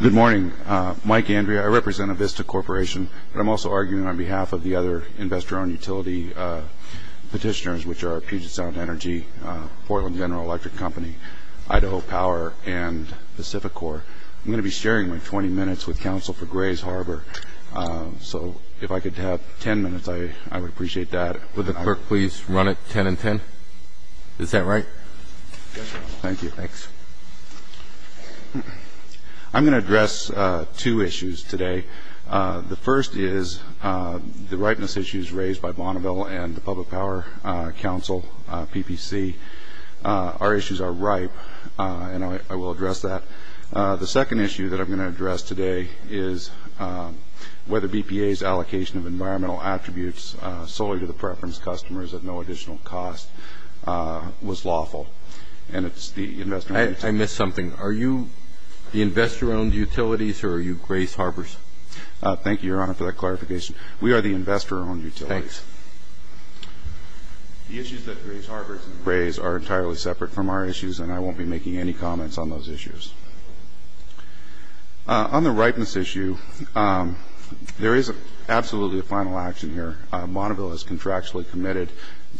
Good morning. Mike Andrea. I represent Avista Corporation. I'm also arguing on behalf of the other investor-owned utility petitioners, which are Puget Sound Energy, Portland General Electric Company, Idaho Power, and Pacificor. I'm going to be sharing my 20 minutes with counsel for Grays Harbor. So if I could have 10 minutes, I would appreciate that. Would the clerk please run it 10 and 10? Is that right? Thank you. Thanks. I'm going to address two issues today. The first is the ripeness issues raised by Bonneville and the Public Power Council, PPC. Our issues are ripe, and I will address that. The second issue that I'm going to address today is whether BPA's allocation of environmental attributes solely to the preference customers at no additional cost was lawful. And it's the investor-owned utilities. I missed something. Are you the investor-owned utilities, or are you Grays Harbors? Thank you, Your Honor, for that clarification. We are the investor-owned utilities. Thanks. The issues that Grays Harbors and Grays are entirely separate from our issues, and I won't be making any comments on those issues. On the ripeness issue, there is absolutely a final action here. Bonneville is contractually committed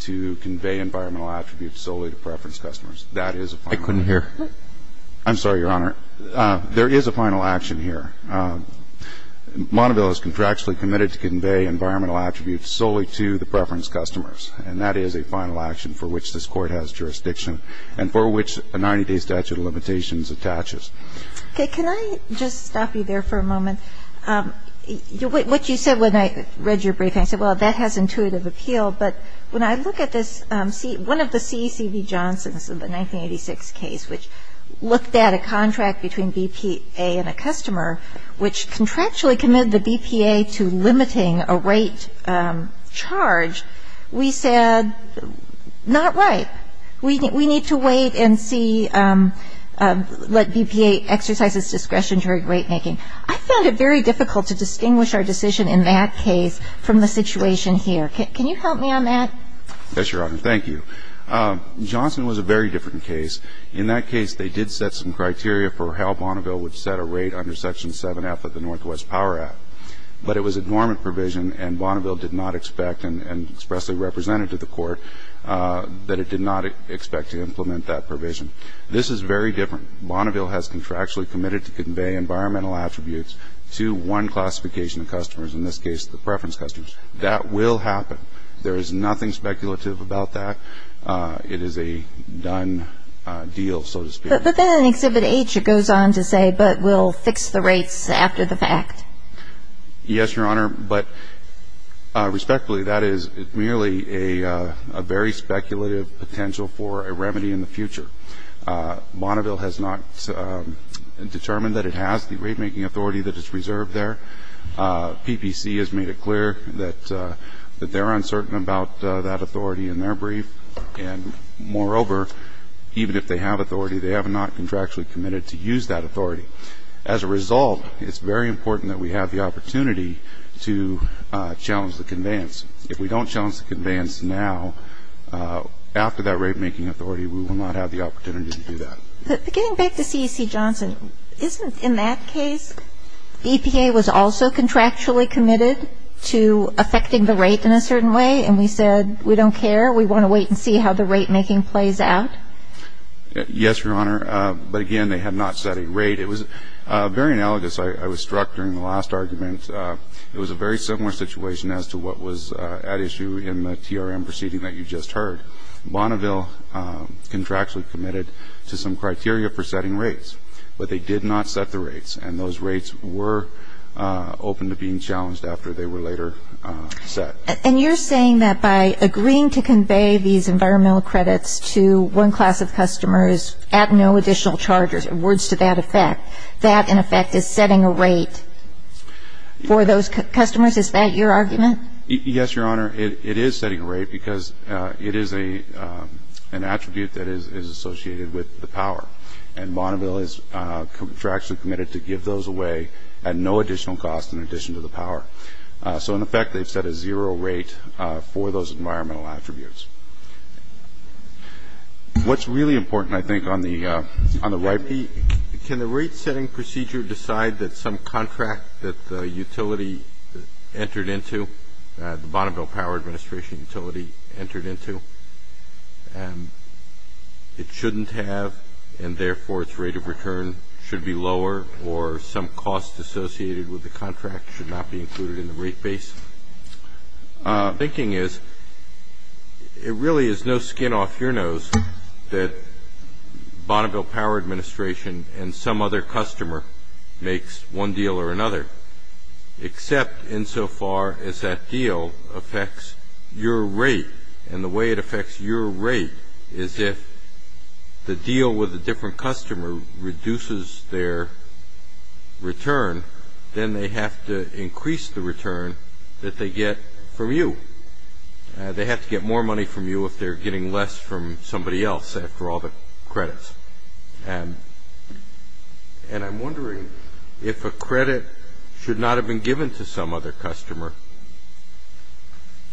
to convey environmental attributes solely to preference customers. That is a final action. I couldn't hear. I'm sorry, Your Honor. There is a final action here. Bonneville is contractually committed to convey environmental attributes solely to the preference customers, and that is a final action for which this Court has jurisdiction and for which a 90-day statute of limitations attaches. Okay. Can I just stop you there for a moment? What you said when I read your briefing, I said, well, that has intuitive appeal. But when I look at this, one of the CECB Johnsons in the 1986 case, which looked at a contract between BPA and a customer, which contractually committed the BPA to limiting a rate charge, we said, not right. We need to wait and see, let BPA exercise its discretion during rate making. I found it very difficult to distinguish our decision in that case from the situation here. Can you help me on that? Yes, Your Honor. Thank you. Johnson was a very different case. In that case, they did set some criteria for how Bonneville would set a rate under Section 7F of the Northwest Power Act. But it was a dormant provision, and Bonneville did not expect, and expressly represented to the Court, that it did not expect to implement that provision. This is very different. Bonneville has contractually committed to convey environmental attributes to one classification of customers, in this case the preference customers. That will happen. There is nothing speculative about that. It is a done deal, so to speak. But then in Exhibit H it goes on to say, but we'll fix the rates after the fact. Yes, Your Honor. But respectfully, that is merely a very speculative potential for a remedy in the future. Bonneville has not determined that it has the rate making authority that is reserved there. PPC has made it clear that they're uncertain about that authority in their brief. And moreover, even if they have authority, they have not contractually committed to use that authority. As a result, it's very important that we have the opportunity to challenge the conveyance. If we don't challenge the conveyance now, after that rate making authority, we will not have the opportunity to do that. But getting back to CEC Johnson, isn't in that case, EPA was also contractually committed to affecting the rate in a certain way, and we said we don't care, we want to wait and see how the rate making plays out? Yes, Your Honor. But again, they have not set a rate. It was very analogous. I was struck during the last argument. It was a very similar situation as to what was at issue in the TRM proceeding that you just heard. Bonneville contractually committed to some criteria for setting rates, but they did not set the rates, and those rates were open to being challenged after they were later set. And you're saying that by agreeing to convey these environmental credits to one class of customers at no additional charges, in words to that effect, that in effect is setting a rate for those customers? Is that your argument? Yes, Your Honor. It is setting a rate because it is an attribute that is associated with the power, and Bonneville is contractually committed to give those away at no additional cost in addition to the power. So, in effect, they've set a zero rate for those environmental attributes. What's really important, I think, on the right, Pete, can the rate setting procedure decide that some contract that the utility entered into, the Bonneville Power Administration utility entered into, it shouldn't have, and therefore its rate of return should be lower or some cost associated with the contract should not be included in the rate base? My thinking is it really is no skin off your nose that Bonneville Power Administration and some other customer makes one deal or another, except insofar as that deal affects your rate, and the way it affects your rate is if the deal with a different customer reduces their return, then they have to increase the return that they get from you. They have to get more money from you if they're getting less from somebody else after all the credits. And I'm wondering if a credit should not have been given to some other customer,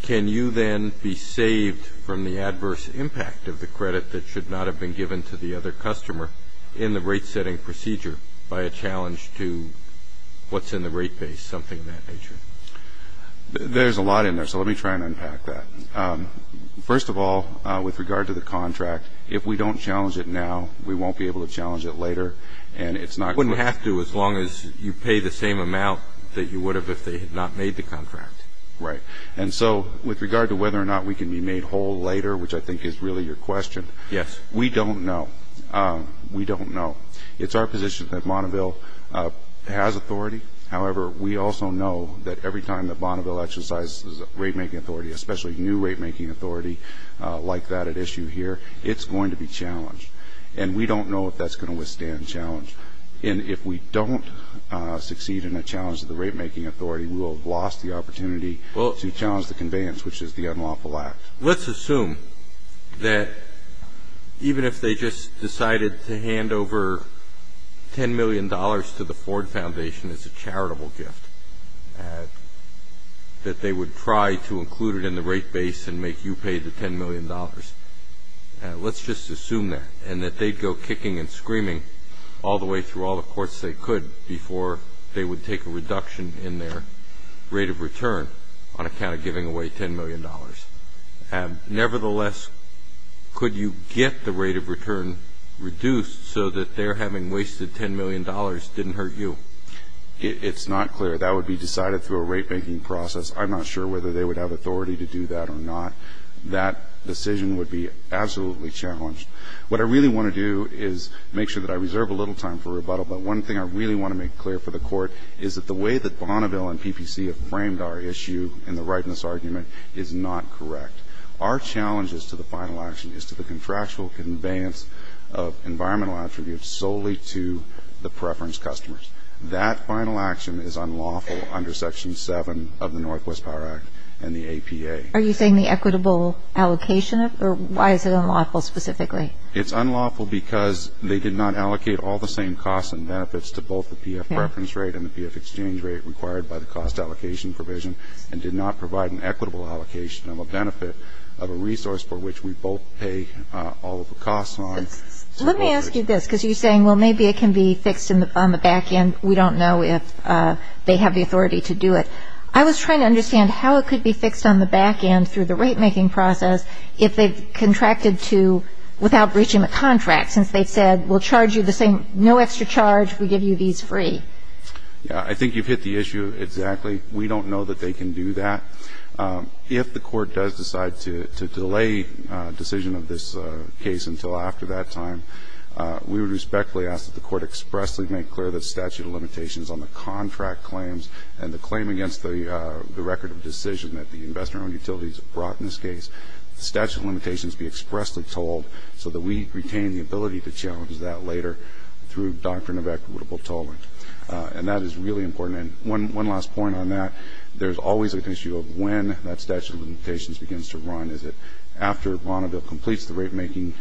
can you then be saved from the adverse impact of the credit that should not have been given to the other customer in the rate setting procedure by a challenge to what's in the rate base, something of that nature? There's a lot in there, so let me try and unpack that. First of all, with regard to the contract, if we don't challenge it now, we won't be able to challenge it later, and it's not going to be- As long as you pay the same amount that you would have if they had not made the contract. Right. And so with regard to whether or not we can be made whole later, which I think is really your question- Yes. We don't know. We don't know. It's our position that Bonneville has authority. However, we also know that every time that Bonneville exercises rate-making authority, especially new rate-making authority like that at issue here, it's going to be challenged. And we don't know if that's going to withstand challenge. And if we don't succeed in a challenge to the rate-making authority, we will have lost the opportunity to challenge the conveyance, which is the unlawful act. Let's assume that even if they just decided to hand over $10 million to the Ford Foundation as a charitable gift, that they would try to include it in the rate base and make you pay the $10 million. Let's just assume that and that they'd go kicking and screaming all the way through all the courts they could before they would take a reduction in their rate of return on account of giving away $10 million. Nevertheless, could you get the rate of return reduced so that their having wasted $10 million didn't hurt you? It's not clear. That would be decided through a rate-making process. I'm not sure whether they would have authority to do that or not. That decision would be absolutely challenged. What I really want to do is make sure that I reserve a little time for rebuttal. But one thing I really want to make clear for the Court is that the way that Bonneville and PPC have framed our issue in the rightness argument is not correct. Our challenge as to the final action is to the contractual conveyance of environmental attributes solely to the preference customers. That final action is unlawful under Section 7 of the Northwest Power Act and the APA. Are you saying the equitable allocation? Or why is it unlawful specifically? It's unlawful because they did not allocate all the same costs and benefits to both the PF preference rate and the PF exchange rate required by the cost allocation provision and did not provide an equitable allocation of a benefit of a resource for which we both pay all of the costs on. Let me ask you this because you're saying, well, maybe it can be fixed on the back end. We don't know if they have the authority to do it. I was trying to understand how it could be fixed on the back end through the rate-making process if they've contracted to, without breaching the contract, since they've said we'll charge you the same, no extra charge, we give you these free. I think you've hit the issue exactly. We don't know that they can do that. If the Court does decide to delay a decision of this case until after that time, we would respectfully ask that the Court expressly make clear the statute of limitations on the contract claims and the claim against the record of decision that the investor-owned utilities brought in this case. The statute of limitations be expressly told so that we retain the ability to challenge that later through doctrine of equitable tolling. And that is really important. And one last point on that. There's always an issue of when that statute of limitations begins to run. Is it after Bonneville completes the rate-making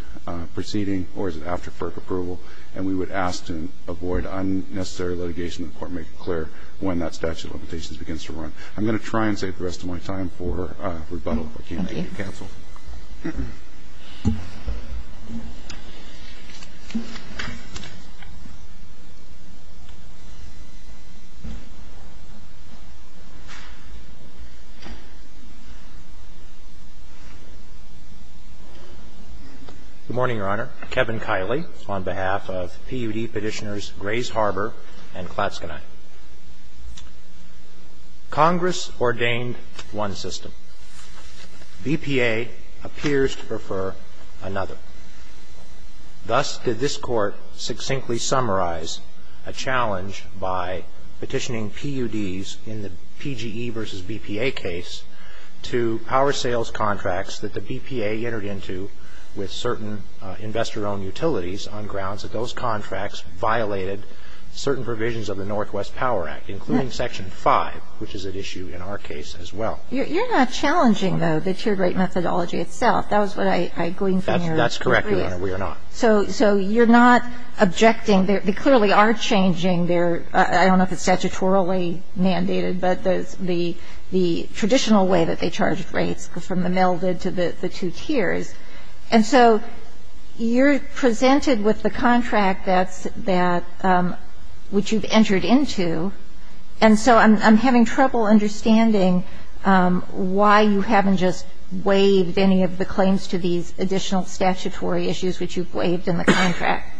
proceeding or is it after FERC approval? And we would ask to avoid unnecessary litigation of the Court and make it clear when that statute of limitations begins to run. I'm going to try and save the rest of my time for rebuttal if I can't make it cancelled. Thank you. Good morning, Your Honor. Kevin Kiley on behalf of PUD Petitioners Grays Harbor and Klatskanai. Congress ordained one system. BPA appears to prefer another. Thus did this Court succinctly summarize a challenge by petitioning PUDs in the PGE versus BPA case to power sales contracts that the BPA entered into with certain investor-owned utilities on grounds that those contracts violated certain provisions of the Northwest Power Act, including Section 5, which is at issue in our case as well. I'm going to try and save the rest of my time for rebuttal if I can't make it cancelled. I'm going to try and save the rest of my time for rebuttal if I can't make it cancelled. You're not challenging, though, the tiered rate methodology itself. That was what I gleaned from your brief. That's correct, Your Honor. We are not. So you're not objecting. They clearly are changing their – I don't know if it's statutorily mandated, but the traditional way that they charge rates, from the melded to the two tiers. And so you're presented with the contract that's – which you've entered into, and so I'm having trouble understanding why you haven't just waived any of the claims to these additional statutory issues which you've waived in the contract.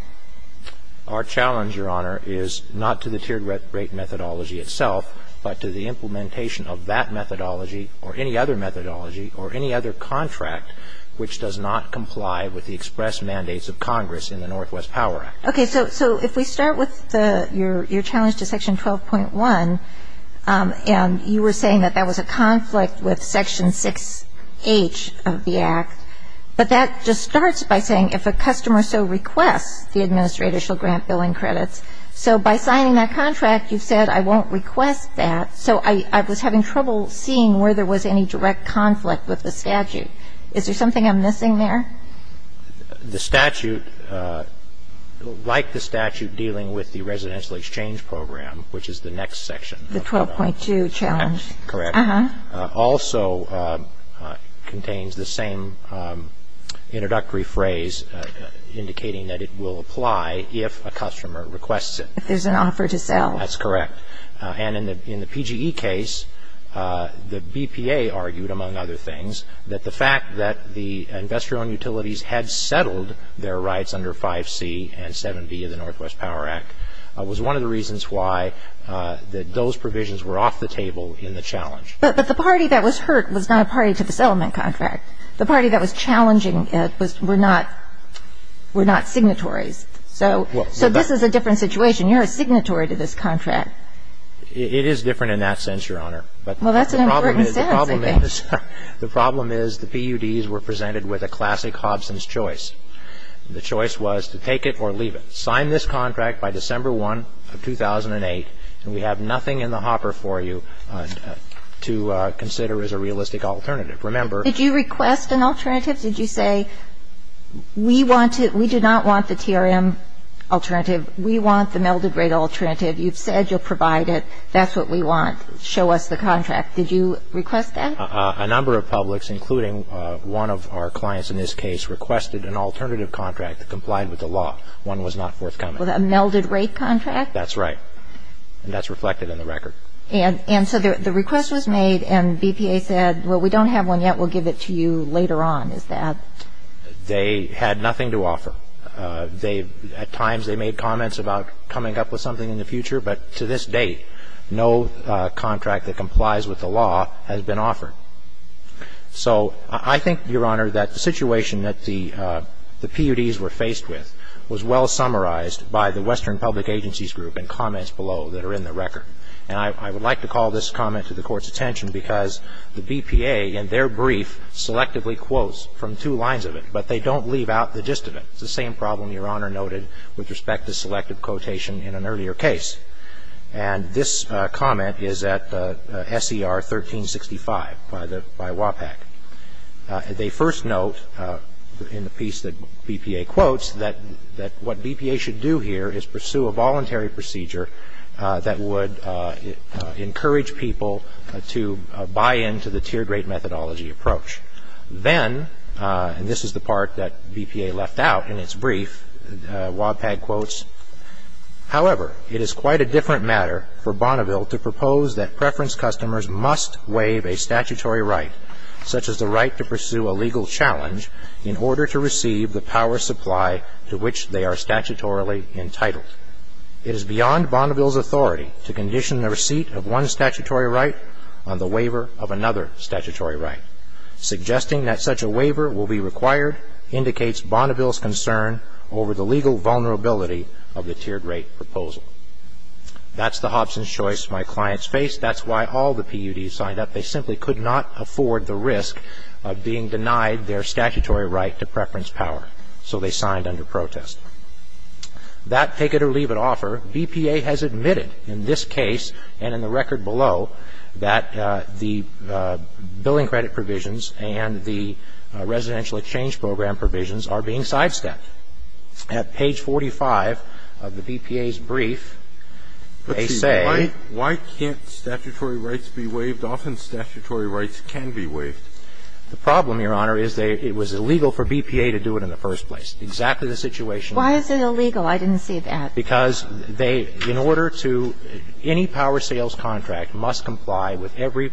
Our challenge, Your Honor, is not to the tiered rate methodology itself, but to the implementation of that methodology or any other methodology or any other contract which does not comply with the express mandates of Congress in the Northwest Power Act. Okay. So if we start with your challenge to section 12.1, and you were saying that that was a conflict with section 6H of the Act, but that just starts by saying if a customer so requests, the administrator shall grant billing credits. So by signing that contract, you've said, I won't request that. So I was having trouble seeing where there was any direct conflict with the statute. Is there something I'm missing there? The statute, like the statute dealing with the residential exchange program, which is the next section. The 12.2 challenge. Correct. Uh-huh. Also contains the same introductory phrase, indicating that it will apply if a customer requests it. If there's an offer to sell. That's correct. And in the PGE case, the BPA argued, among other things, that the fact that the investor-owned utilities had settled their rights under 5C and 7B of the Northwest Power Act was one of the reasons why those provisions were off the table in the challenge. But the party that was hurt was not a party to the settlement contract. The party that was challenging it were not signatories. So this is a different situation. You're a signatory to this contract. It is different in that sense, Your Honor. Well, that's an important sentence, I think. The problem is the PUDs were presented with a classic Hobson's choice. The choice was to take it or leave it. We signed this contract by December 1 of 2008, and we have nothing in the hopper for you to consider as a realistic alternative. Remember ---- Did you request an alternative? Did you say, we want to ---- we do not want the TRM alternative. We want the melded rate alternative. You've said you'll provide it. That's what we want. Show us the contract. Did you request that? A number of publics, including one of our clients in this case, requested an alternative contract that complied with the law. One was not forthcoming. A melded rate contract? That's right. And that's reflected in the record. And so the request was made and BPA said, well, we don't have one yet. We'll give it to you later on. Is that ---- They had nothing to offer. At times they made comments about coming up with something in the future, but to this day no contract that complies with the law has been offered. So I think, Your Honor, that the situation that the PUDs were faced with was well summarized by the Western Public Agencies Group in comments below that are in the record. And I would like to call this comment to the Court's attention because the BPA in their brief selectively quotes from two lines of it, but they don't leave out the gist of it. It's the same problem Your Honor noted with respect to selective quotation in an earlier case. And this comment is at SER 1365 by WAPAC. They first note in the piece that BPA quotes that what BPA should do here is pursue a voluntary procedure that would encourage people to buy into the tiered rate methodology approach. Then, and this is the part that BPA left out in its brief, WAPAC quotes, however, it is quite a different matter for Bonneville to propose that preference customers must waive a statutory right, such as the right to pursue a legal challenge, in order to receive the power supply to which they are statutorily entitled. It is beyond Bonneville's authority to condition the receipt of one statutory right on the waiver of another statutory right. Suggesting that such a waiver will be required indicates Bonneville's concern over the legal vulnerability of the tiered rate proposal. That's the Hobson's choice my clients faced. That's why all the PUDs signed up. They simply could not afford the risk of being denied their statutory right to preference power, so they signed under protest. That take-it-or-leave-it offer, BPA has admitted in this case and in the record below that the billing credit provisions and the residential exchange program provisions are being sidestepped. At page 45 of the BPA's brief, they say why can't statutory rights be waived? Often statutory rights can be waived. The problem, Your Honor, is that it was illegal for BPA to do it in the first place. Exactly the situation. Why is it illegal? I didn't see that. Because they, in order to, any power sales contract must comply with every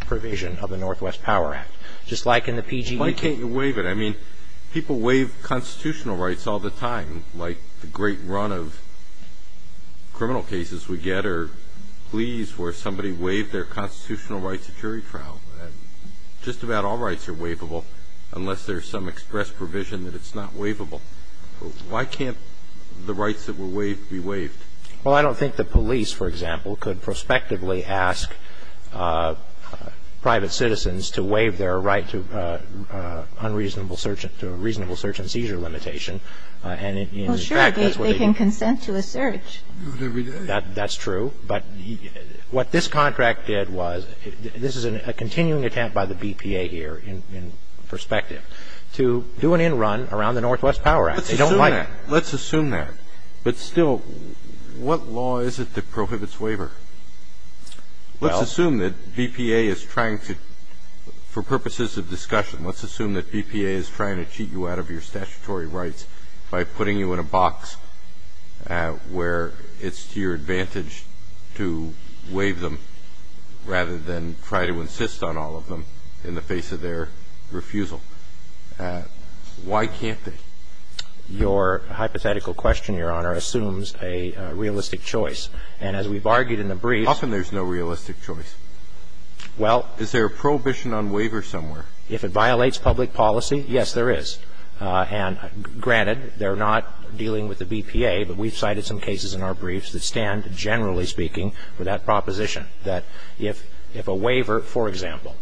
provision of the Northwest Power Act. Just like in the PGE. Why can't you waive it? I mean, people waive constitutional rights all the time, like the great run of criminal cases we get, or pleas where somebody waived their constitutional rights at jury trial. Just about all rights are waivable, unless there's some express provision that it's not waivable. Why can't the rights that were waived be waived? Well, I don't think the police, for example, could prospectively ask private citizens to waive their right to unreasonable search and seizure limitation. And in fact, that's what they do. Well, sure. They can consent to a search. Do it every day. That's true. But what this contract did was, this is a continuing attempt by the BPA here, in perspective, to do an end run around the Northwest Power Act. They don't like it. Let's assume that. But still, what law is it that prohibits waiver? Let's assume that BPA is trying to, for purposes of discussion, let's assume that BPA is trying to cheat you out of your statutory rights by putting you in a box where it's to your advantage to waive them, rather than try to insist on all of them in the face of their refusal. Why can't they? Your hypothetical question, Your Honor, assumes a realistic choice. And as we've argued in the briefs ---- How come there's no realistic choice? Well ---- Is there a prohibition on waiver somewhere? If it violates public policy, yes, there is. And granted, they're not dealing with the BPA, but we've cited some cases in our briefs that stand, generally speaking, with that proposition, that if a waiver, for example,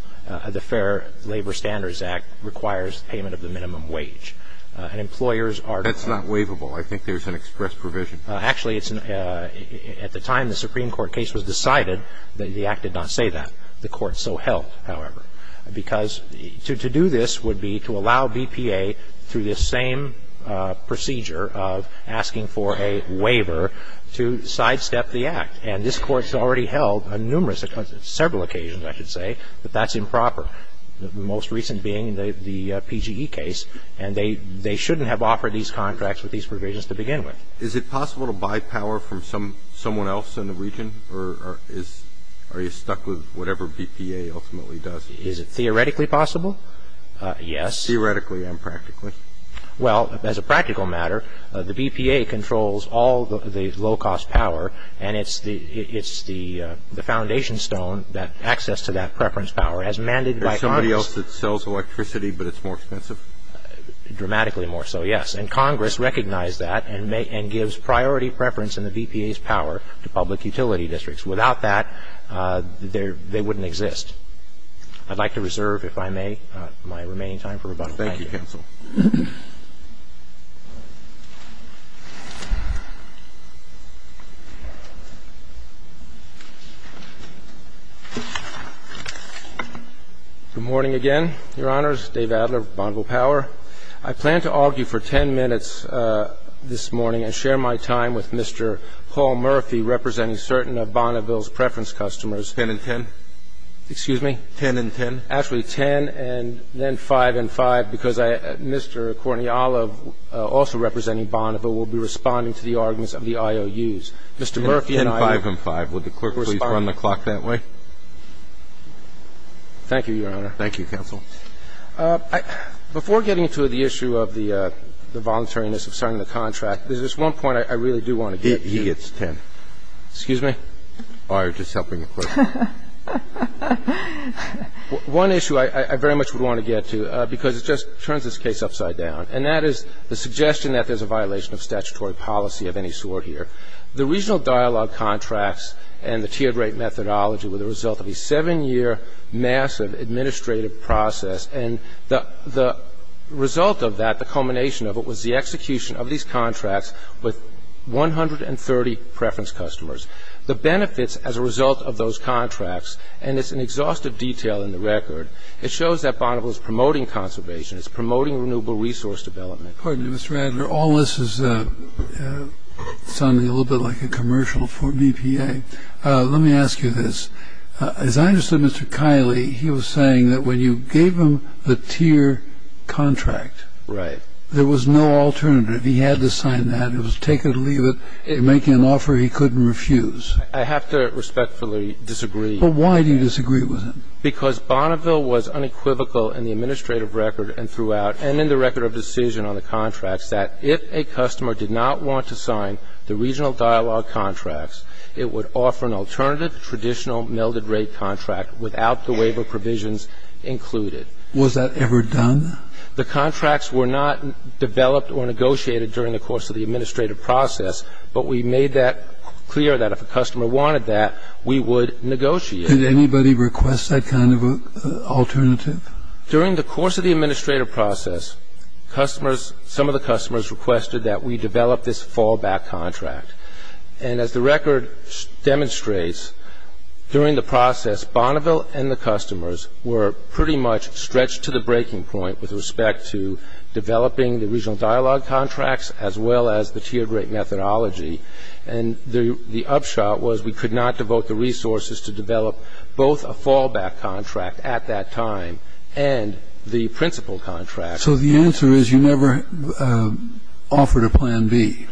the Fair Labor Standards Act, requires payment of the minimum wage. And employers are ---- That's not waivable. I think there's an express provision. Actually, at the time the Supreme Court case was decided, the Act did not say that. The Court so held, however. Because to do this would be to allow BPA, through this same procedure of asking for a waiver, to sidestep the Act. And this Court has already held on numerous or several occasions, I should say, that that's improper. The most recent being the PGE case. And they shouldn't have offered these contracts with these provisions to begin with. Is it possible to buy power from someone else in the region, or are you stuck with whatever BPA ultimately does? Is it theoretically possible? Yes. Theoretically and practically. Well, as a practical matter, the BPA controls all the low-cost power, and it's the foundation stone that access to that preference power. As mandated by Congress ---- There's somebody else that sells electricity, but it's more expensive? Dramatically more so, yes. And Congress recognized that and gives priority preference in the BPA's power to public utility districts. Without that, they wouldn't exist. I'd like to reserve, if I may, my remaining time for rebuttal. Thank you. Thank you, counsel. Good morning again, Your Honors. Dave Adler, Bonneville Power. I plan to argue for 10 minutes this morning and share my time with Mr. Paul Murphy, representing certain of Bonneville's preference customers. Ten and ten? Excuse me? Ten and ten? Actually, ten and then five and five, because I ---- Mr. Courtney Olive, also representing Bonneville, will be responding to the arguments of the IOUs. Mr. Murphy and I will respond. Ten, five and five. Would the clerk please run the clock that way? Thank you, Your Honor. Thank you, counsel. Before getting to the issue of the voluntariness of signing the contract, there's one point I really do want to get to. He gets ten. Excuse me? Oh, you're just helping the clerk. One issue I very much would want to get to, because it just turns this case upside down, and that is the suggestion that there's a violation of statutory policy of any sort here. The regional dialogue contracts and the tiered rate methodology were the result of a seven-year massive administrative process, and the result of that, the culmination of it, was the execution of these contracts with 130 preference customers. The benefits as a result of those contracts, and it's an exhaustive detail in the record, it shows that Bonneville is promoting conservation. It's promoting renewable resource development. Pardon me, Mr. Adler. All this is sounding a little bit like a commercial for BPA. Let me ask you this. As I understood Mr. Kiley, he was saying that when you gave him the tier contract, there was no alternative. He had to sign that. It was take it or leave it. He was making an offer he couldn't refuse. I have to respectfully disagree. But why do you disagree with him? Because Bonneville was unequivocal in the administrative record and throughout and in the record of decision on the contracts that if a customer did not want to sign the regional dialogue contracts, it would offer an alternative traditional melded rate contract without the waiver provisions included. Was that ever done? The contracts were not developed or negotiated during the course of the administrative process, but we made that clear that if a customer wanted that, we would negotiate. Did anybody request that kind of alternative? During the course of the administrative process, some of the customers requested that we develop this fallback contract. And as the record demonstrates, during the process, Bonneville and the customers were pretty much stretched to the breaking point with respect to developing the regional dialogue contracts as well as the tiered rate methodology. And the upshot was we could not devote the resources to develop both a fallback contract at that time and the principal contract. So the answer is you never offered a plan B?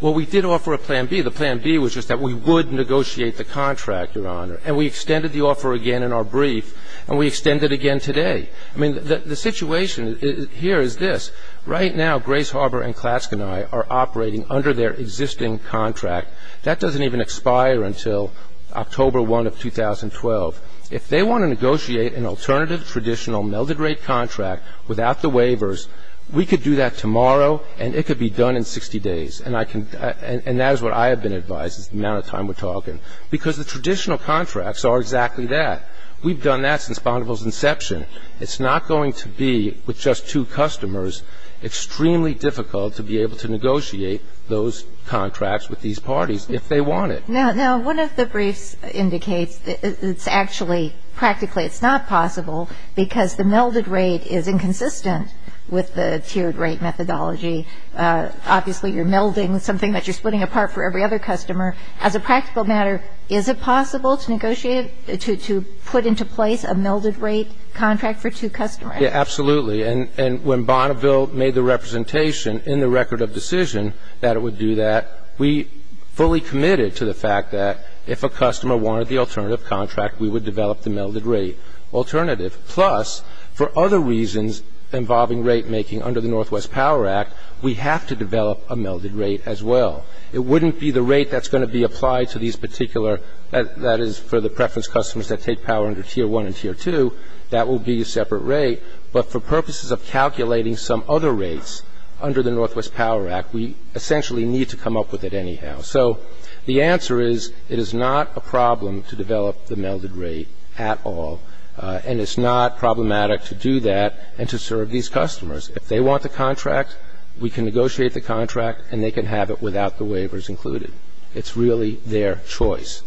Well, we did offer a plan B. The plan B was just that we would negotiate the contract, Your Honor. And we extended the offer again in our brief, and we extend it again today. I mean, the situation here is this. Right now, Grace Harbor and Klatschke and I are operating under their existing contract. That doesn't even expire until October 1 of 2012. If they want to negotiate an alternative traditional melded rate contract without the waivers, we could do that tomorrow, and it could be done in 60 days. And that is what I have been advised is the amount of time we're talking. Because the traditional contracts are exactly that. We've done that since Bonneville's inception. It's not going to be, with just two customers, extremely difficult to be able to negotiate those contracts with these parties if they want it. Now, one of the briefs indicates it's actually practically it's not possible because the melded rate is inconsistent with the tiered rate methodology. Obviously, you're melding something that you're splitting apart for every other customer. As a practical matter, is it possible to negotiate, to put into place a melded rate contract for two customers? Yeah, absolutely. And when Bonneville made the representation in the record of decision that it would do that, we fully committed to the fact that if a customer wanted the alternative contract, we would develop the melded rate alternative. Plus, for other reasons involving rate making under the Northwest Power Act, we have to develop a melded rate as well. It wouldn't be the rate that's going to be applied to these particular, that is for the preference customers that take power under Tier 1 and Tier 2, that will be a separate rate. But for purposes of calculating some other rates under the Northwest Power Act, we essentially need to come up with it anyhow. So the answer is it is not a problem to develop the melded rate at all, and it's not problematic to do that and to serve these customers. If they want the contract, we can negotiate the contract, and they can have it without the waivers included. It's really their choice.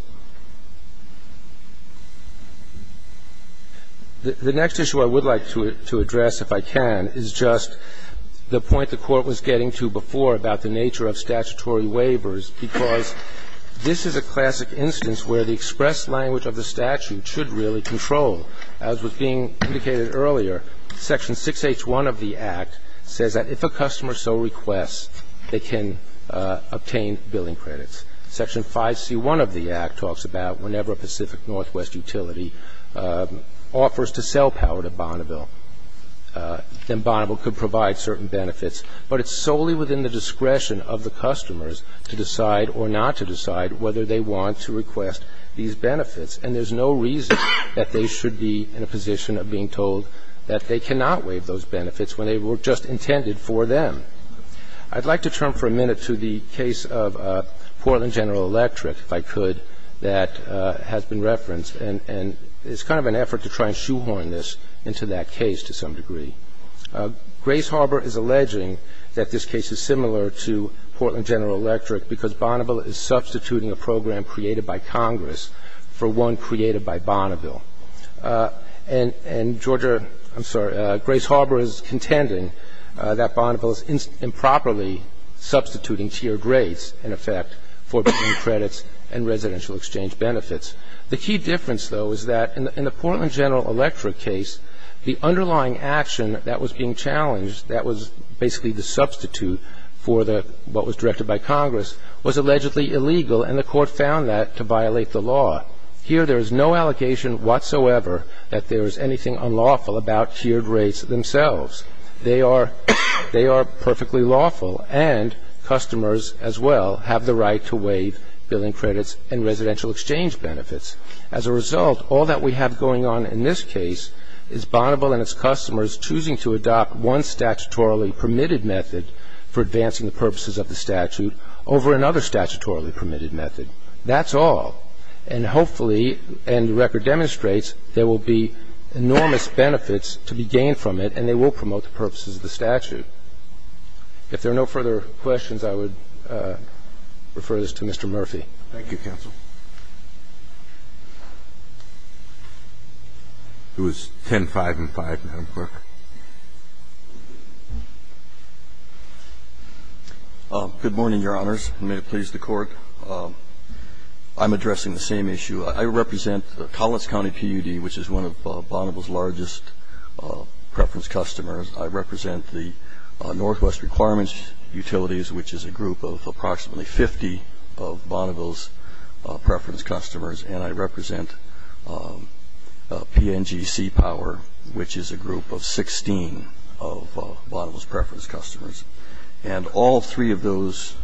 The next issue I would like to address, if I can, is just the point the Court was getting to before about the nature of statutory waivers, because this is a classic instance where the express language of the statute should really control. As was being indicated earlier, Section 6H1 of the Act says that if a customer so requests, they can obtain billing credits. Section 5C1 of the Act talks about whenever a Pacific Northwest utility offers to sell power to Bonneville, then Bonneville could provide certain benefits. But it's solely within the discretion of the customers to decide or not to decide whether they want to request these benefits. And there's no reason that they should be in a position of being told that they cannot waive those benefits when they were just intended for them. I'd like to turn for a minute to the case of Portland General Electric, if I could, that has been referenced. And it's kind of an effort to try and shoehorn this into that case to some degree. Grace Harbor is alleging that this case is similar to Portland General Electric because Bonneville is substituting a program created by Congress for one created by Bonneville. And Georgia, I'm sorry, Grace Harbor is contending that Bonneville is improperly substituting tiered rates, in effect, for billing credits and residential exchange benefits. The key difference, though, is that in the Portland General Electric case, the underlying action that was being challenged, that was basically the substitute for what was directed by Congress, was allegedly illegal, and the court found that to violate the law. Here there is no allegation whatsoever that there is anything unlawful about tiered rates themselves. They are perfectly lawful. And customers, as well, have the right to waive billing credits and residential exchange benefits. As a result, all that we have going on in this case is Bonneville and its customers choosing to adopt one statutorily permitted method for advancing the purposes of the statute over another statutorily permitted method. That's all. And hopefully, and the record demonstrates, there will be enormous benefits to be gained from it, and they will promote the purposes of the statute. If there are no further questions, I would refer this to Mr. Murphy. Thank you, counsel. Who is 10-5 and 5, Madam Clerk? Good morning, Your Honors, and may it please the Court. I'm addressing the same issue. I represent Collins County PUD, which is one of Bonneville's largest preference customers. I represent the Northwest Requirements Utilities, which is a group of approximately 50 of Bonneville's preference customers. And I represent PNGC Power, which is a group of 16 of Bonneville's preference customers. And all three of those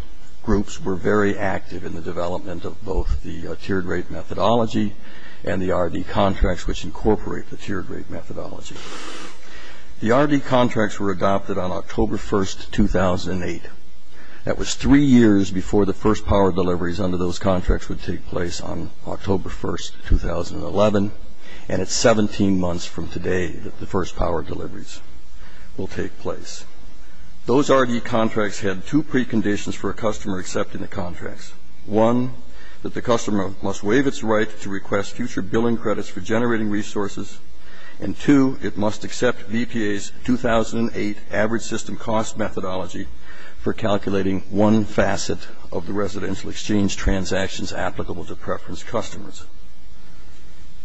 groups were very active in the development of both the tiered rate methodology and the RD contracts, which incorporate the tiered rate methodology. The RD contracts were adopted on October 1, 2008. That was three years before the first power deliveries under those contracts would take place on October 1, 2011, and it's 17 months from today that the first power deliveries will take place. Those RD contracts had two preconditions for a customer accepting the contracts. One, that the customer must waive its right to request future billing credits for generating resources, and, two, it must accept BPA's 2008 average system cost methodology for calculating one facet of the residential exchange transactions applicable to preference customers.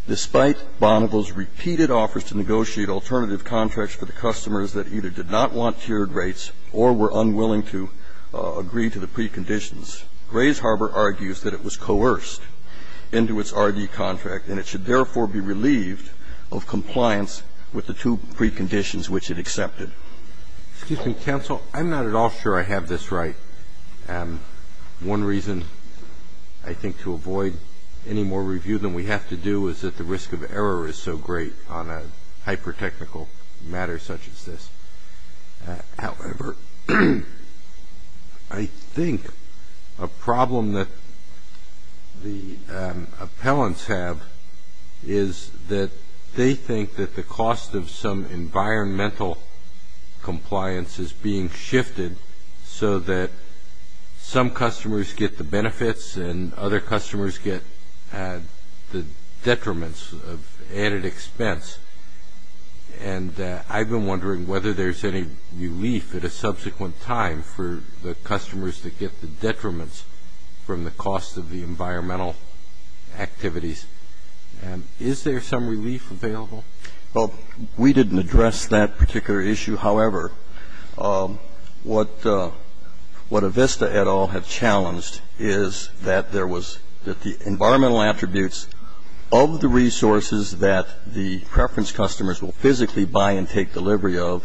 Despite Bonneville's repeated offers to negotiate alternative contracts for the customers that either did not want tiered rates or were unwilling to agree to the preconditions, Grays Harbor argues that it was coerced into its RD contract and it should therefore be relieved of compliance with the two preconditions which it accepted. Excuse me, counsel. I'm not at all sure I have this right. One reason I think to avoid any more review than we have to do is that the risk of error is so great on a hypertechnical matter such as this. However, I think a problem that the appellants have is that they think that the cost of some environmental compliance is being shifted so that some customers get the benefits and other customers get the detriments of added expense. And I've been wondering whether there's any relief at a subsequent time for the customers that get the detriments from the cost of the environmental activities. Is there some relief available? Well, we didn't address that particular issue. However, what Avista et al. have challenged is that the environmental attributes of the resources that the preference customers will physically buy and take delivery of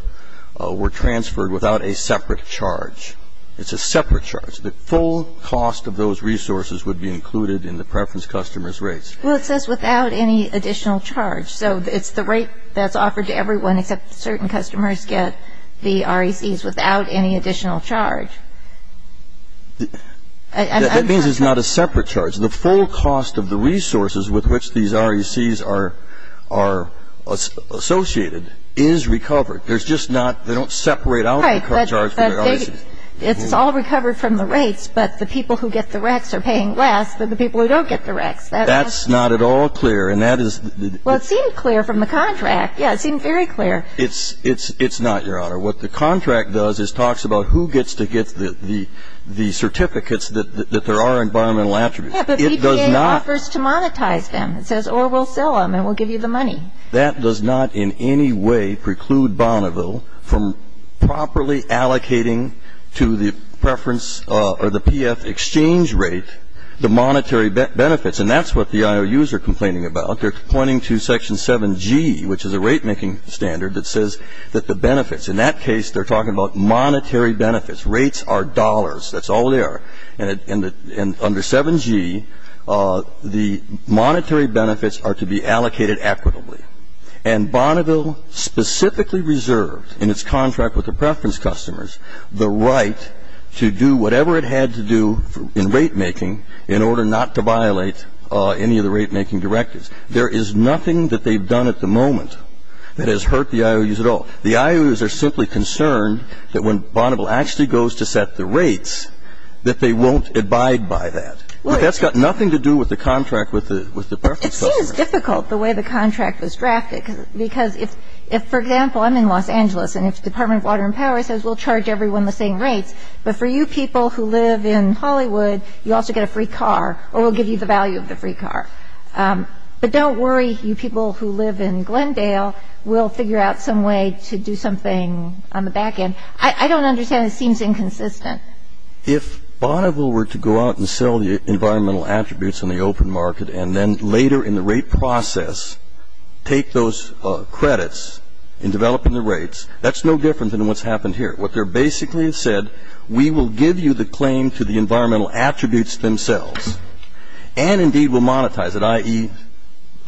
were transferred without a separate charge. It's a separate charge. The full cost of those resources would be included in the preference customer's rates. Well, it says without any additional charge. So it's the rate that's offered to everyone except certain customers get the RECs without any additional charge. That means it's not a separate charge. The full cost of the resources with which these RECs are associated is recovered. They don't separate out the charge for the RECs. It's all recovered from the rates, but the people who get the RECs are paying less than the people who don't get the RECs. That's not at all clear. Well, it seemed clear from the contract. It's not, Your Honor. What the contract does is talks about who gets to get the certificates that there are environmental attributes. Yeah, but BPA offers to monetize them. It says, or we'll sell them and we'll give you the money. That does not in any way preclude Bonneville from properly allocating to the preference or the PF exchange rate the monetary benefits, and that's what the IOUs are complaining about. They're pointing to Section 7G, which is a rate-making standard that says that the benefits, in that case they're talking about monetary benefits. Rates are dollars. That's all they are. And under 7G, the monetary benefits are to be allocated equitably, and Bonneville specifically reserved in its contract with the preference customers the right to do whatever it had to do in rate-making in order not to violate any of the rate-making directives. There is nothing that they've done at the moment that has hurt the IOUs at all. The IOUs are simply concerned that when Bonneville actually goes to set the rates, that they won't abide by that. But that's got nothing to do with the contract with the preference customers. It seems difficult the way the contract was drafted because if, for example, I'm in Los Angeles and if the Department of Water and Power says we'll charge everyone the same rates, but for you people who live in Hollywood, you also get a free car or we'll give you the value of the free car. But don't worry. You people who live in Glendale will figure out some way to do something on the back end. I don't understand. It seems inconsistent. If Bonneville were to go out and sell the environmental attributes in the open market and then later in the rate process take those credits in developing the rates, that's no different than what's happened here. What they're basically said, we will give you the claim to the environmental attributes themselves and indeed we'll monetize it, i.e.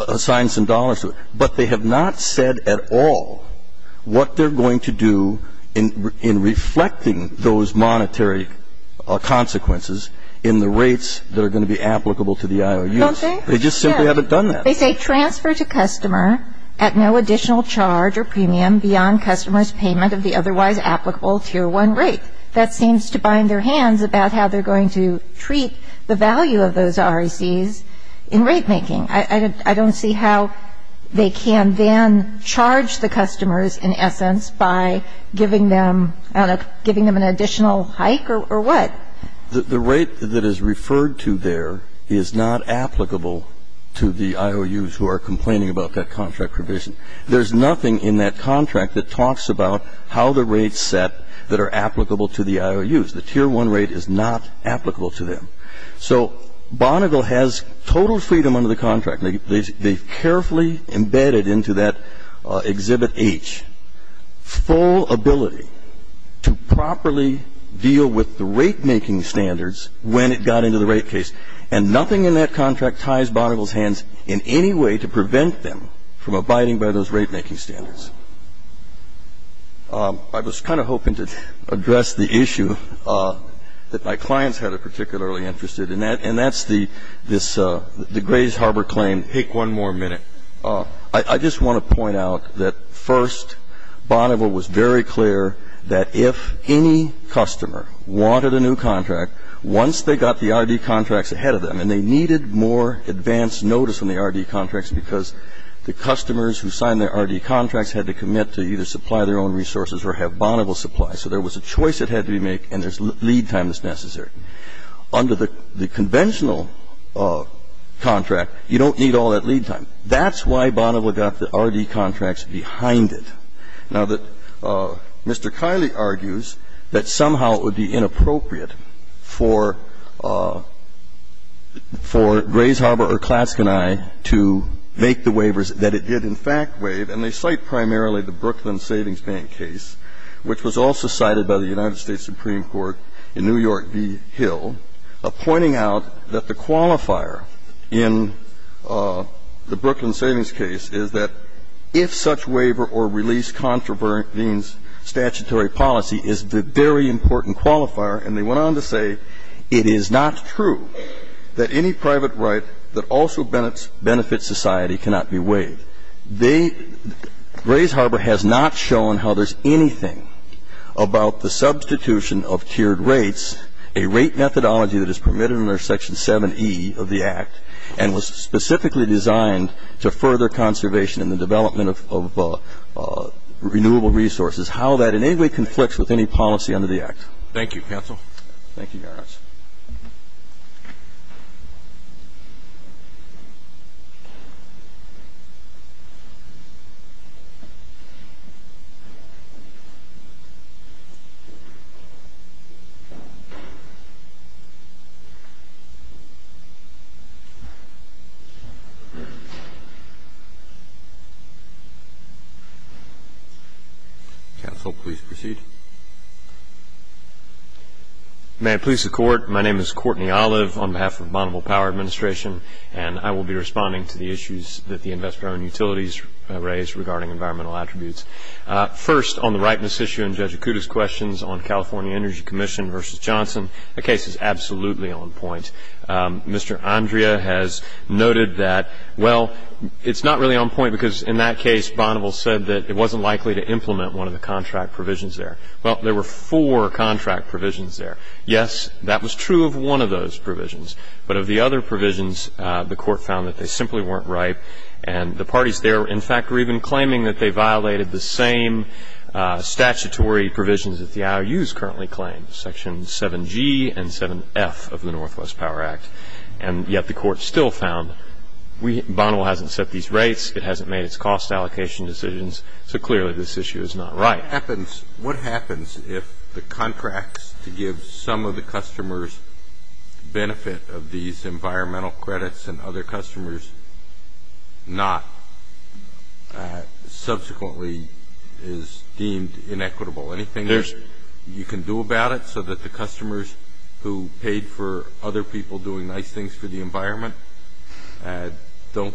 assign some dollars to it. But they have not said at all what they're going to do in reflecting those monetary consequences in the rates that are going to be applicable to the IOUs. They just simply haven't done that. They say transfer to customer at no additional charge or premium beyond customer's payment of the otherwise applicable Tier 1 rate. That seems to bind their hands about how they're going to treat the value of those RECs in rate making. I don't see how they can then charge the customers in essence by giving them an additional hike or what. The rate that is referred to there is not applicable to the IOUs who are complaining about that contract provision. There's nothing in that contract that talks about how the rates set that are applicable to the IOUs. The Tier 1 rate is not applicable to them. So Bonneville has total freedom under the contract. They've carefully embedded into that Exhibit H full ability to properly deal with the rate making standards when it got into the rate case. And nothing in that contract ties Bonneville's hands in any way to prevent them from abiding by those rate making standards. I was kind of hoping to address the issue that my clients had particularly interested in, and that's the Grays Harbor claim. Take one more minute. I just want to point out that, first, Bonneville was very clear that if any customer wanted a new contract, they had to sign the R.D. contract once they got the R.D. contracts ahead of them. And they needed more advance notice on the R.D. contracts because the customers who signed their R.D. contracts had to commit to either supply their own resources or have Bonneville supply. So there was a choice that had to be made, and there's lead time that's necessary. Under the conventional contract, you don't need all that lead time. That's why Bonneville got the R.D. contracts behind it. Now, Mr. Kiley argues that somehow it would be inappropriate for Grays Harbor or Klatske and I to make the waivers that it did in fact waive. And they cite primarily the Brooklyn Savings Bank case, which was also cited by the United States Supreme Court in New York v. Hill, pointing out that the qualifier in the Brooklyn Savings case is that if such waiver or release contravenes statutory policy is the very important qualifier. And they went on to say it is not true that any private right that also benefits society cannot be waived. They – Grays Harbor has not shown how there's anything about the substitution of tiered rates, a rate methodology that is permitted under Section 7E of the Act, and was specifically designed to further conservation in the development of renewable resources, how that in any way conflicts with any policy under the Act. Thank you, counsel. Thank you, Your Honor. Counsel, please proceed. May it please the Court, my name is Courtney Olive on behalf of Bonneville Power Administration, and I will be responding to the issues that the investor-owned utilities raised regarding environmental attributes. First, on the ripeness issue in Judge Akuta's questions on California Energy Commission v. Johnson, the case is absolutely on point. Mr. Andrea has noted that, well, it's not really on point because in that case, Bonneville said that it wasn't likely to implement one of the contract provisions there. Well, there were four contract provisions there. Yes, that was true of one of those provisions. But of the other provisions, the Court found that they simply weren't ripe, and the parties there, in fact, were even claiming that they violated the same statutory provisions that the IOUs currently claim, Section 7G and 7F of the Northwest Power Act. And yet the Court still found Bonneville hasn't set these rates, it hasn't made its cost allocation decisions, so clearly this issue is not right. What happens if the contracts to give some of the customers benefit of these environmental credits and other customers not subsequently is deemed inequitable? Anything you can do about it so that the customers who paid for other people doing nice things for the environment don't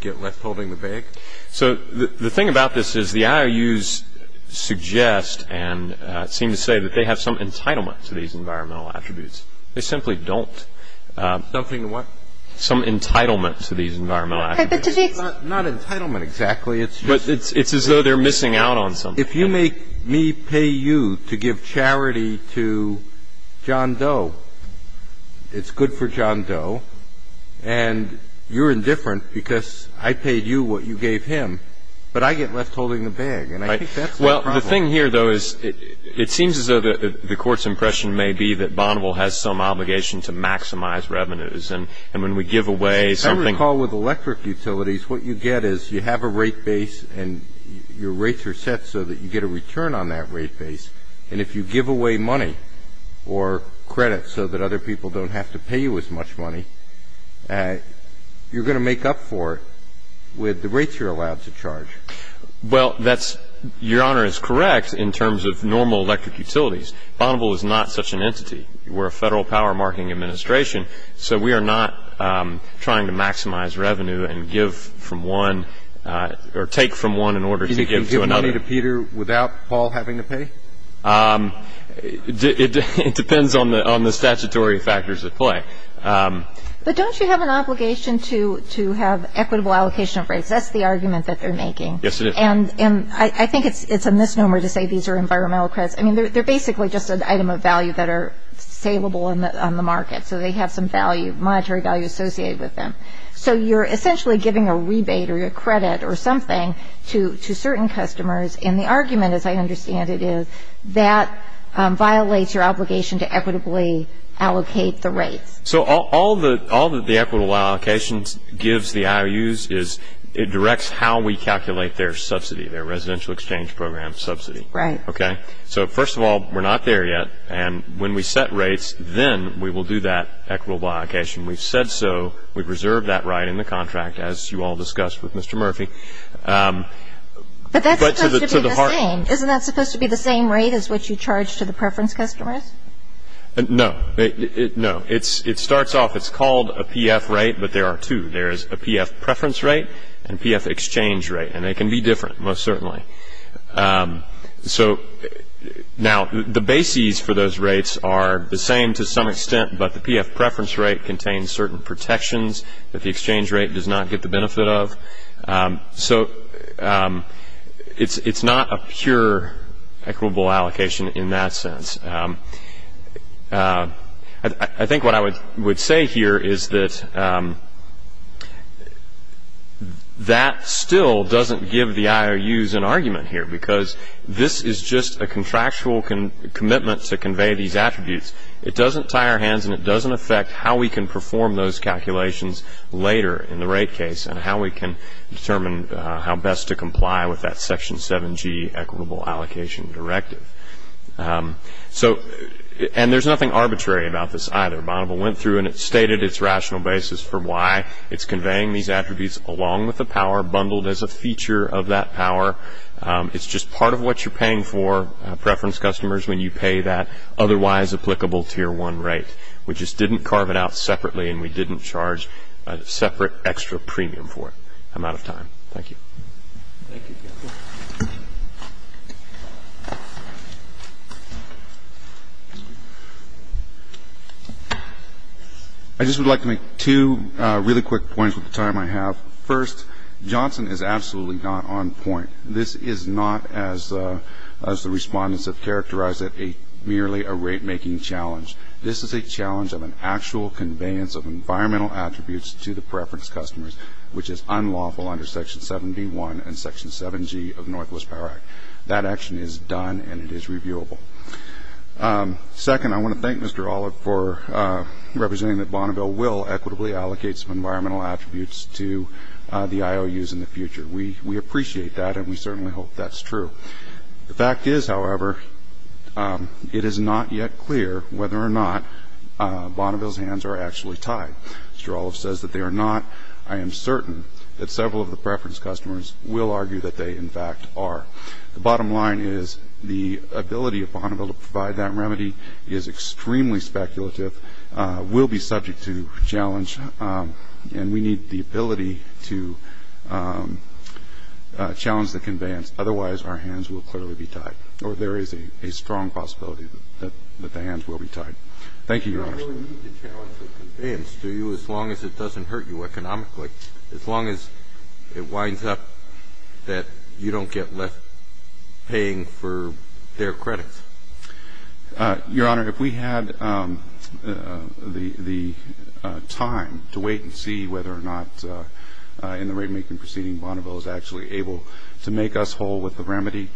get left holding the bag? So the thing about this is the IOUs suggest and seem to say that they have some entitlement to these environmental attributes. They simply don't. So the IOUs suggest that they have some entitlement to these environmental attributes. But to me, it's not entitlement exactly. It's just as though they're missing out on something. If you make me pay you to give charity to John Doe, it's good for John Doe, and you're indifferent because I paid you what you gave him, but I get left holding the bag. And I think that's my problem. The thing here, though, is it seems as though the Court's impression may be that Bonneville has some obligation to maximize revenues. And when we give away something ---- I recall with electric utilities, what you get is you have a rate base, and your rates are set so that you get a return on that rate base. And if you give away money or credit so that other people don't have to pay you as much money, you're going to make up for it with the rates you're allowed to charge. Well, that's ---- Your Honor is correct in terms of normal electric utilities. Bonneville is not such an entity. We're a federal power-marketing administration, so we are not trying to maximize revenue and give from one or take from one in order to give to another. You can give money to Peter without Paul having to pay? It depends on the statutory factors at play. Because that's the argument that they're making. Yes, it is. And I think it's a misnomer to say these are environmental credits. I mean, they're basically just an item of value that are salable on the market, so they have some monetary value associated with them. So you're essentially giving a rebate or a credit or something to certain customers, and the argument, as I understand it, is that violates your obligation to equitably allocate the rates. So all that the equitable allocation gives the IOUs is it directs how we calculate their subsidy, their residential exchange program subsidy. Right. Okay? So, first of all, we're not there yet, and when we set rates, then we will do that equitable allocation. We've said so. We've reserved that right in the contract, as you all discussed with Mr. Murphy. But that's supposed to be the same. Isn't that supposed to be the same rate as what you charge to the preference customers? No. No. It starts off, it's called a PF rate, but there are two. There is a PF preference rate and a PF exchange rate, and they can be different, most certainly. So, now, the bases for those rates are the same to some extent, but the PF preference rate contains certain protections that the exchange rate does not get the benefit of. So it's not a pure equitable allocation in that sense. I think what I would say here is that that still doesn't give the IOUs an argument here because this is just a contractual commitment to convey these attributes. It doesn't tie our hands, and it doesn't affect how we can perform those calculations later in the rate case and how we can determine how best to comply with that Section 7G equitable allocation directive. And there's nothing arbitrary about this either. Bonneville went through and it stated its rational basis for why it's conveying these attributes along with the power, bundled as a feature of that power. It's just part of what you're paying for, preference customers, when you pay that otherwise applicable Tier 1 rate. We just didn't carve it out separately, and we didn't charge a separate extra premium for it. I'm out of time. Thank you. I just would like to make two really quick points with the time I have. First, Johnson is absolutely not on point. This is not, as the respondents have characterized it, merely a rate-making challenge. This is a challenge of an actual conveyance of environmental attributes to the preference customers, which is unlawful under Section 7B1 and Section 7G of the Northwest Power Act. That action is done, and it is reviewable. Second, I want to thank Mr. Olive for representing that Bonneville will equitably allocate some environmental attributes to the IOUs in the future. We appreciate that, and we certainly hope that's true. The fact is, however, it is not yet clear whether or not Bonneville's hands are actually tied. Mr. Olive says that they are not. I am certain that several of the preference customers will argue that they, in fact, are. The bottom line is the ability of Bonneville to provide that remedy is extremely speculative, will be subject to challenge, and we need the ability to challenge the conveyance. Otherwise, our hands will clearly be tied, or there is a strong possibility that the hands will be tied. Thank you, Your Honor. You don't really need to challenge the conveyance, do you, as long as it doesn't hurt you economically, as long as it winds up that you don't get left paying for their credits? Your Honor, if we had the time to wait and see whether or not in the rate-making proceeding Bonneville is actually able to make us whole with the remedy,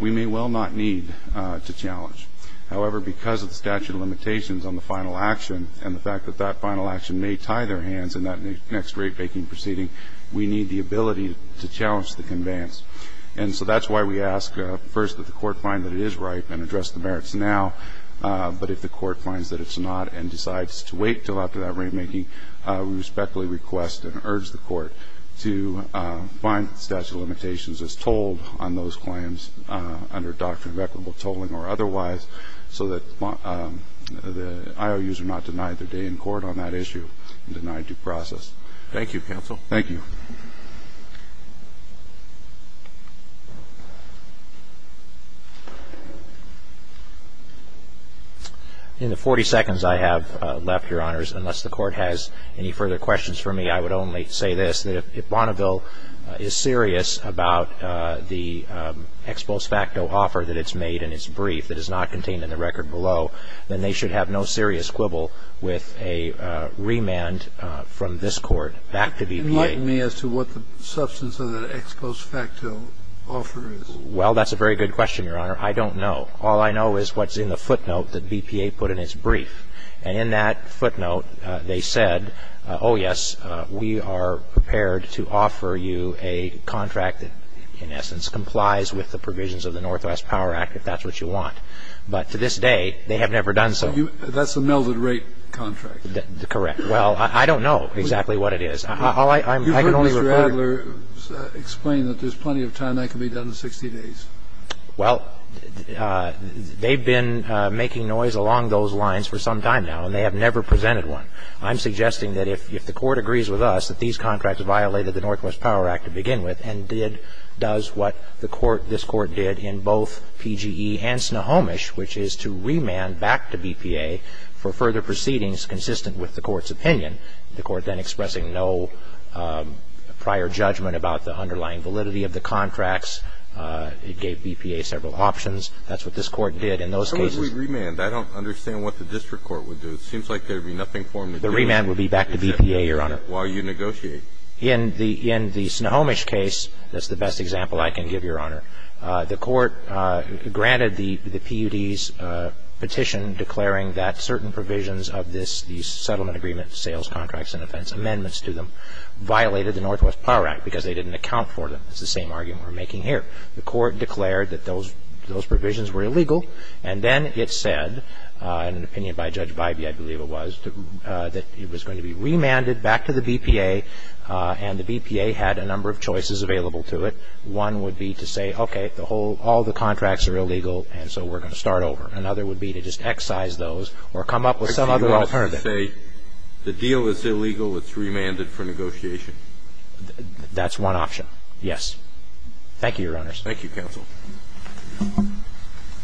we may well not need to challenge. However, because of the statute of limitations on the final action and the fact that that final action may tie their hands in that next rate-making proceeding, we need the ability to challenge the conveyance. And so that's why we ask, first, that the Court find that it is right and address the merits now, but if the Court finds that it's not and decides to wait until after that rate-making, we respectfully request and urge the Court to find the statute of limitations as told on those claims under doctrine of equitable tolling or otherwise, so that the IOUs are not denied their day in court on that issue and denied due process. Thank you, counsel. Thank you. In the 40 seconds I have left, Your Honors, unless the Court has any further questions for me, I would only say this, that if Bonneville is serious about the ex post facto offer that it's made and it's briefed, it is not contained in the record below, then they should have no serious quibble with a remand from this Court back to BPA. I'm sorry, Your Honor, I'm not sure what the substance of the ex post facto offer is. Well, that's a very good question, Your Honor. I don't know. All I know is what's in the footnote that BPA put in its brief. And in that footnote, they said, oh, yes, we are prepared to offer you a contract that, in essence, complies with the provisions of the Northwest Power Act, if that's what you want. But to this day, they have never done so. That's a melded rate contract. Correct. Well, I don't know exactly what it is. You heard Mr. Adler explain that there's plenty of time that can be done in 60 days. Well, they've been making noise along those lines for some time now, and they have never presented one. I'm suggesting that if the Court agrees with us that these contracts violated the Northwest Power Act to begin with and did do what the Court, this Court did in both PGE and Snohomish, which is to remand back to BPA for further proceedings consistent with the Court's opinion, the Court then expressing no prior judgment about the underlying validity of the contracts. It gave BPA several options. That's what this Court did in those cases. How would we remand? I don't understand what the district court would do. It seems like there would be nothing for them to do. The remand would be back to BPA, Your Honor. While you negotiate. In the Snohomish case, that's the best example I can give, Your Honor. The Court granted the PUD's petition declaring that certain provisions of these settlement agreement sales contracts and offense amendments to them violated the Northwest Power Act because they didn't account for them. It's the same argument we're making here. The Court declared that those provisions were illegal, and then it said, in an opinion by Judge Bybee, I believe it was, that it was going to be remanded back to the BPA, and the BPA had a number of choices available to it. One would be to say, okay, all the contracts are illegal, and so we're going to start over. Another would be to just excise those or come up with some other alternative. The deal is illegal. It's remanded for negotiation. That's one option. Yes. Thank you, Your Honors. Thank you, Counsel.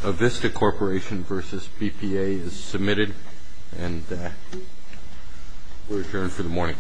A VISTA Corporation v. BPA is submitted, and we're adjourned for the morning.